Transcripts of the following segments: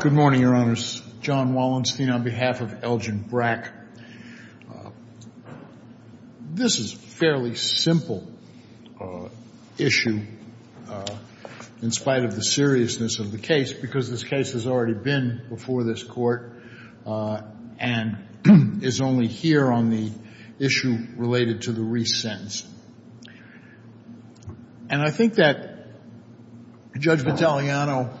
Good morning, Your Honors. John Wallenstein on behalf of Elgin Brack. This is a fairly simple issue, in spite of the seriousness of the case, because this case has already been before this Court and is only here on the issue related to the re-sentence. And I think that Judge Battagliano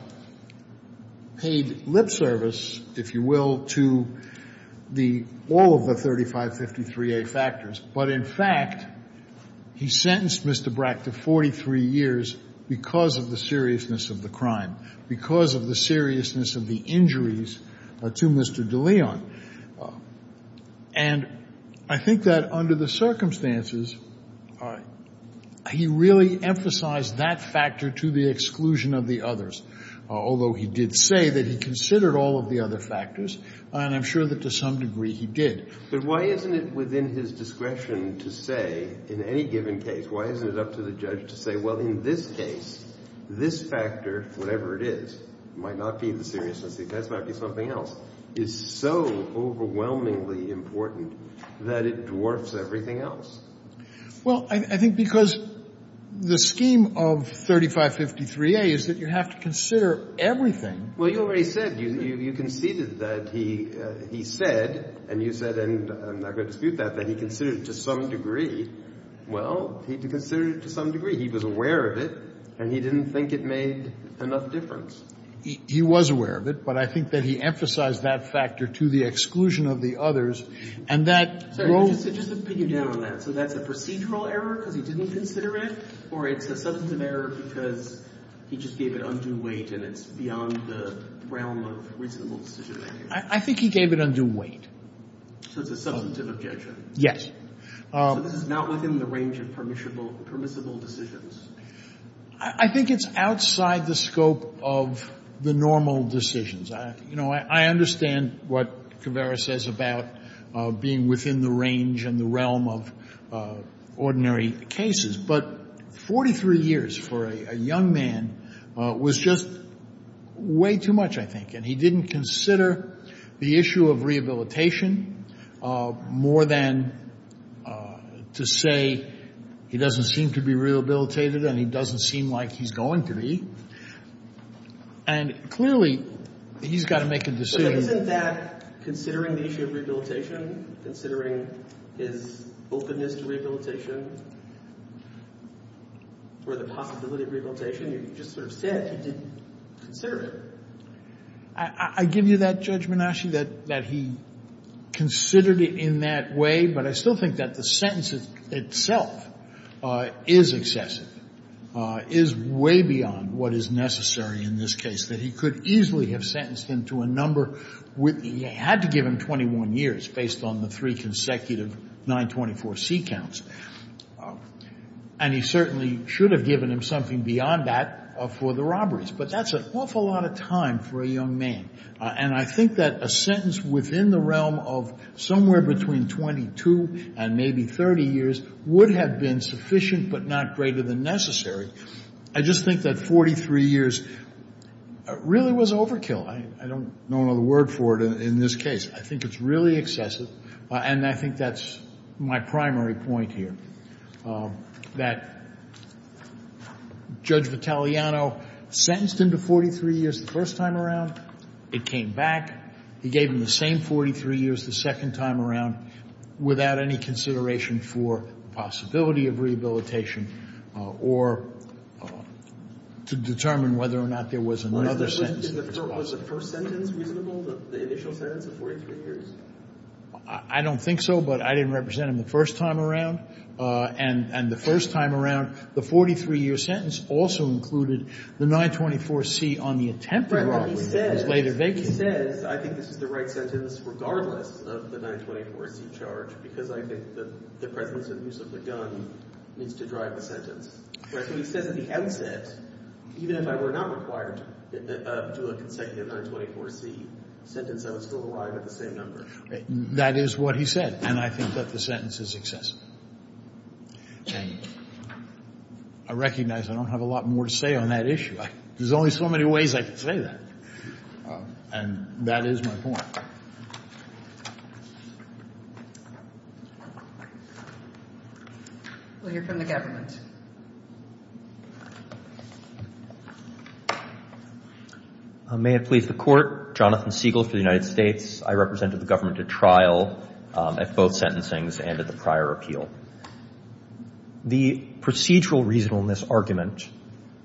paid lip service, if you will, to all of the 3553A factors. But in fact, he sentenced Mr. Brack to 43 years because of the seriousness of the crime, because of the seriousness of the injuries to Mr. De Leon. And I think that under the circumstances, he really emphasized that factor to the exclusion of the others, although he did say that he considered all of the other factors. And I'm sure that to some degree he did. But why isn't it within his discretion to say, in any given case, why isn't it up to the judge to say, well, in this case, this factor, whatever it is, might not be the seriousness. That might be something else. It's so overwhelmingly important that it dwarfs everything else. Well, I think because the scheme of 3553A is that you have to consider everything. Well, you already said, you conceded that he said, and you said, and I'm not going to dispute that, that he considered it to some degree. Well, he considered it to some degree. He was aware of it. And he didn't think it made enough difference. He was aware of it. But I think that he emphasized that factor to the exclusion of the others. And that grows. So just to pin you down on that, so that's a procedural error because he didn't consider it? Or it's a substantive error because he just gave it undue weight, and it's beyond the realm of reasonable decision-making? I think he gave it undue weight. So it's a substantive objection? Yes. So this is not within the range of permissible decisions? I think it's outside the scope of the normal decisions. You know, I understand what Caveira says about being within the range and the realm of ordinary cases. But 43 years for a young man was just way too much, I think. And he didn't consider the issue of rehabilitation more than to say he doesn't seem to be rehabilitated and he doesn't seem like he's going to be. And clearly, he's got to make a decision. But isn't that considering the issue of rehabilitation, considering his openness to rehabilitation, or the possibility of rehabilitation? You just sort of said he didn't consider it. I give you that judgment, actually, that he considered it in that way. But I still think that the sentence itself is excessive, is way beyond what is necessary in this case, that he could easily have sentenced him to a number. He had to give him 21 years based on the three consecutive 924C counts. And he certainly should have given him something beyond that for the robberies. But that's an awful lot of time for a young man. And I think that a sentence within the realm of somewhere between 22 and maybe 30 years would have been sufficient, but not greater than necessary. I just think that 43 years really was overkill. I don't know another word for it in this case. I think it's really excessive. And I think that's my primary point here, that Judge Vitaliano sentenced him to 43 years the first time around. It came back. He gave him the same 43 years the second time around without any consideration for the possibility of rehabilitation or to determine whether or not there was another sentence that was possible. Was the first sentence reasonable, the initial sentence of 43 years? I don't think so, but I didn't represent him the first time around. And the first time around, the 43-year sentence also included the 924C on the attempted robbery that was later vacated. He says, I think this is the right sentence regardless of the 924C charge because I think the presence and use of the gun needs to drive the sentence. So he says at the outset, even if I were not required to do a consecutive 924C sentence, I was still alive at the same number. That is what he said. And I think that the sentence is excessive. And I recognize I don't have a lot more to say on that issue. There's only so many ways I can say that. And that is my point. We'll hear from the government. May it please the Court, Jonathan Siegel for the United States. I represented the government at trial at both sentencings and at the prior appeal. The procedural reasonableness argument,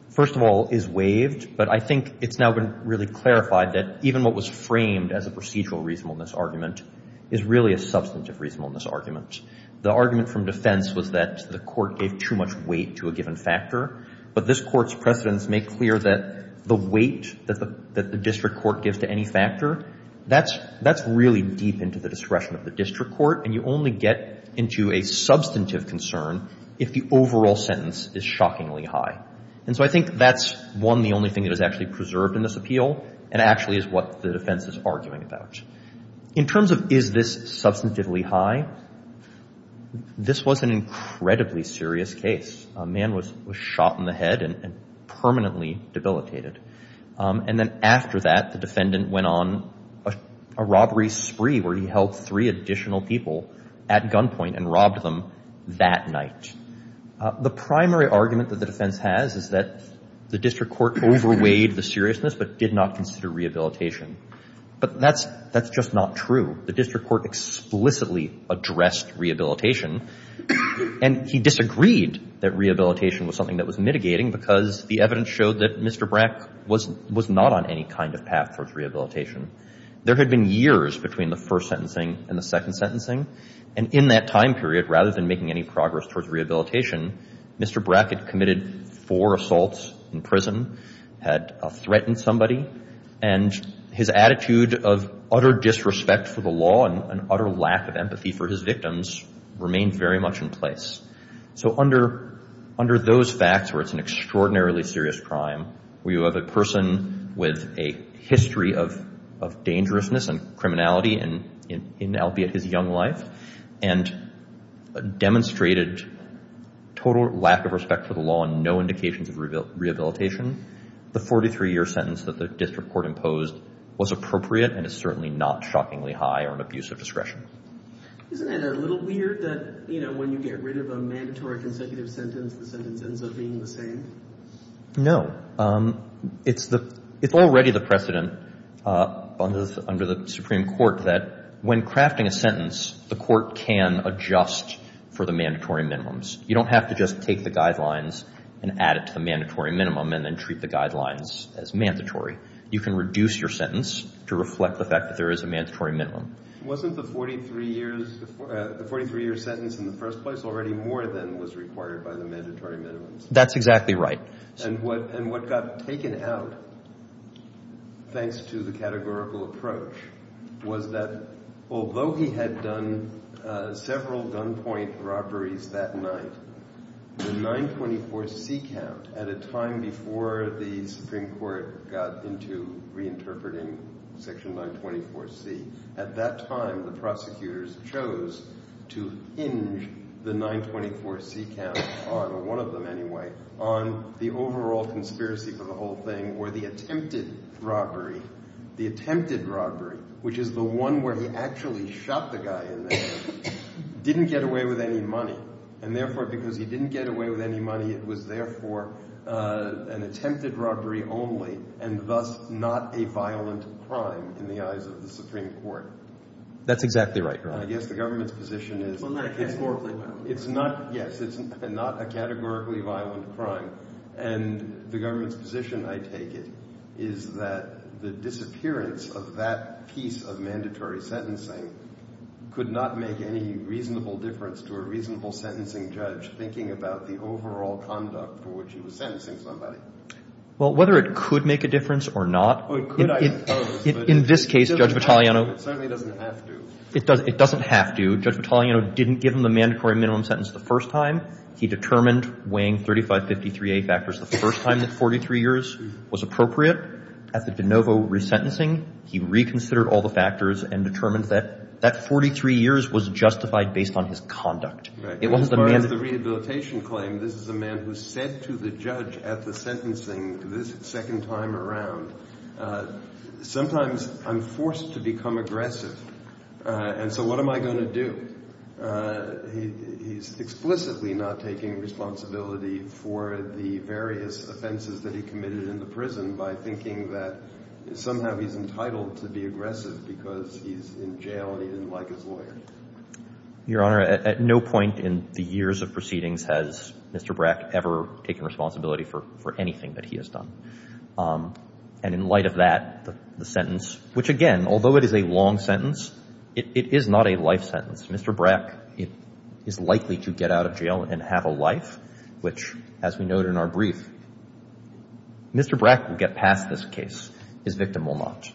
first of all, is waived. But I think it's now been really clarified that even what was framed as a procedural reasonableness argument is really a substantive reasonableness argument. The argument from defense was that the court gave too much weight to a given factor. But this court's precedents make clear that the weight that the district court gives to any factor, that's really deep into the discretion of the district court. And you only get into a substantive concern if the overall sentence is shockingly high. And so I think that's, one, the only thing that is actually preserved in this appeal and actually is what the defense is arguing about. In terms of is this substantively high, this was an incredibly serious case. A man was shot in the head and permanently debilitated. And then after that, the defendant went on a robbery spree where he held three additional people at gunpoint and robbed them that night. The primary argument that the defense has is that the district court overweighed the seriousness but did not consider rehabilitation. But that's just not true. The district court explicitly addressed rehabilitation. And he disagreed that rehabilitation was something that was mitigating because the evidence showed that Mr. Brack was not on any kind of path towards rehabilitation. There had been years between the first sentencing and the second sentencing. And in that time period, rather than making any progress towards rehabilitation, Mr. Brack had committed four assaults in prison, had threatened somebody, and his attitude of utter disrespect for the law and utter lack of empathy for his victims remained very much in place. So under those facts where it's an extraordinarily serious crime, where you have a person with a history of dangerousness and criminality in, albeit, his young life, and demonstrated total lack of respect for the law and no indications of rehabilitation, the 43-year sentence that the district court imposed was appropriate and is certainly not shockingly high or an abuse of discretion. Isn't it a little weird that, you know, when you get rid of a mandatory consecutive sentence, the sentence ends up being the same? No. It's already the precedent under the Supreme Court that when crafting a sentence, the court can adjust for the mandatory minimums. You don't have to just take the guidelines and add it to the mandatory minimum and then treat the guidelines as mandatory. You can reduce your sentence to reflect the fact that there is a mandatory minimum. Wasn't the 43-year sentence in the first place already more than was required by the mandatory minimums? That's exactly right. And what got taken out, thanks to the categorical approach, was that although he had done several gunpoint robberies that night, the 924C count, at a time before the Supreme Court got into reinterpreting Section 924C, at that time, the prosecutors chose to hinge the 924C count, or one of them anyway, on the overall conspiracy for the whole thing, where the attempted robbery, the attempted robbery, which is the one where he actually shot the guy in the head, didn't get away with any money. And therefore, because he didn't get away with any money, it was therefore an attempted robbery only, and thus not a violent crime in the eyes of the Supreme Court. That's exactly right, right? I guess the government's position is, it's not, yes, it's not a categorically violent crime. And the government's position, I take it, is that the disappearance of that piece of mandatory sentencing could not make any reasonable difference to a reasonable sentencing judge thinking about the overall conduct for which he was sentencing somebody. Well, whether it could make a difference or not, in this case, Judge Vitaliano It certainly doesn't have to. It doesn't have to. Judge Vitaliano didn't give him the mandatory minimum sentence the first time. He determined weighing 3553A factors the first time that 43 years was appropriate. At the de novo resentencing, he reconsidered all the factors and determined that that 43 years was justified based on his conduct. As far as the rehabilitation claim, this is a man who said to the judge at the sentencing this second time around, sometimes I'm forced to become aggressive. And so what am I going to do? He's explicitly not taking responsibility for the various offenses that he committed in the prison by thinking that somehow he's entitled to be aggressive because he's in jail and he didn't like his lawyer. Your Honor, at no point in the years of proceedings has Mr. Brack ever taken responsibility for anything that he has done. And in light of that, the sentence, which again, although it is a long sentence, it is not a life sentence. Mr. Brack is likely to get out of jail and have a life, which, as we note in our brief, Mr. Brack will get past this case. His victim will not.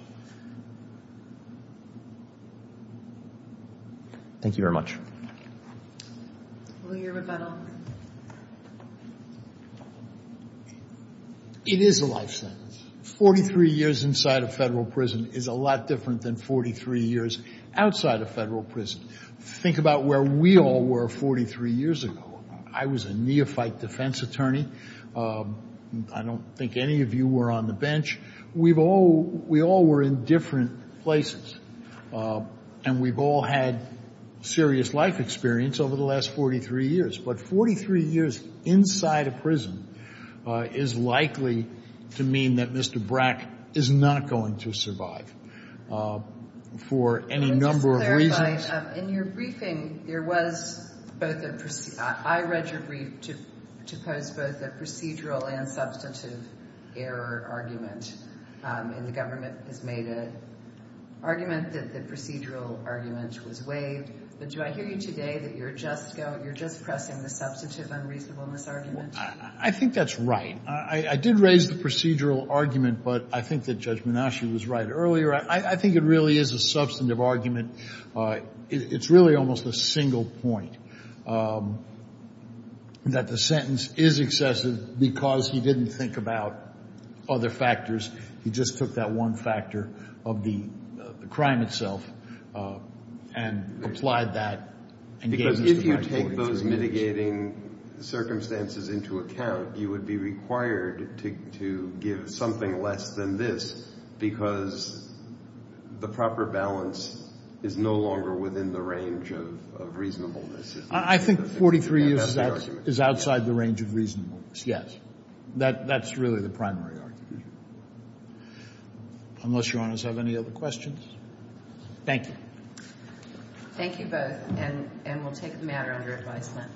Thank you very much. It is a life sentence. 43 years inside of federal prison is a lot different than 43 years outside of federal prison. Think about where we all were 43 years ago. I was a neophyte defense attorney. I don't think any of you were on the bench. We all were in different places. And we've all had serious life experience over the last 43 years. But 43 years inside a prison is likely to mean that Mr. Brack is not going to survive for any number of reasons. In your briefing, there was both a, I read your brief to pose both a procedural and procedural argument was waived. But do I hear you today that you're just go, you're just pressing the substantive unreasonableness argument? I think that's right. I did raise the procedural argument, but I think that Judge Minashi was right earlier. I think it really is a substantive argument. It's really almost a single point that the sentence is excessive because he didn't think about other factors. He just took that one factor of the crime itself and applied that and gave us the right 43 years. Because if you take those mitigating circumstances into account, you would be required to give something less than this because the proper balance is no longer within the range of reasonableness. I think 43 years is outside the range of reasonableness. Yes. That's really the primary argument. Unless your honors have any other questions. Thank you. Thank you both and we'll take the matter under advisement.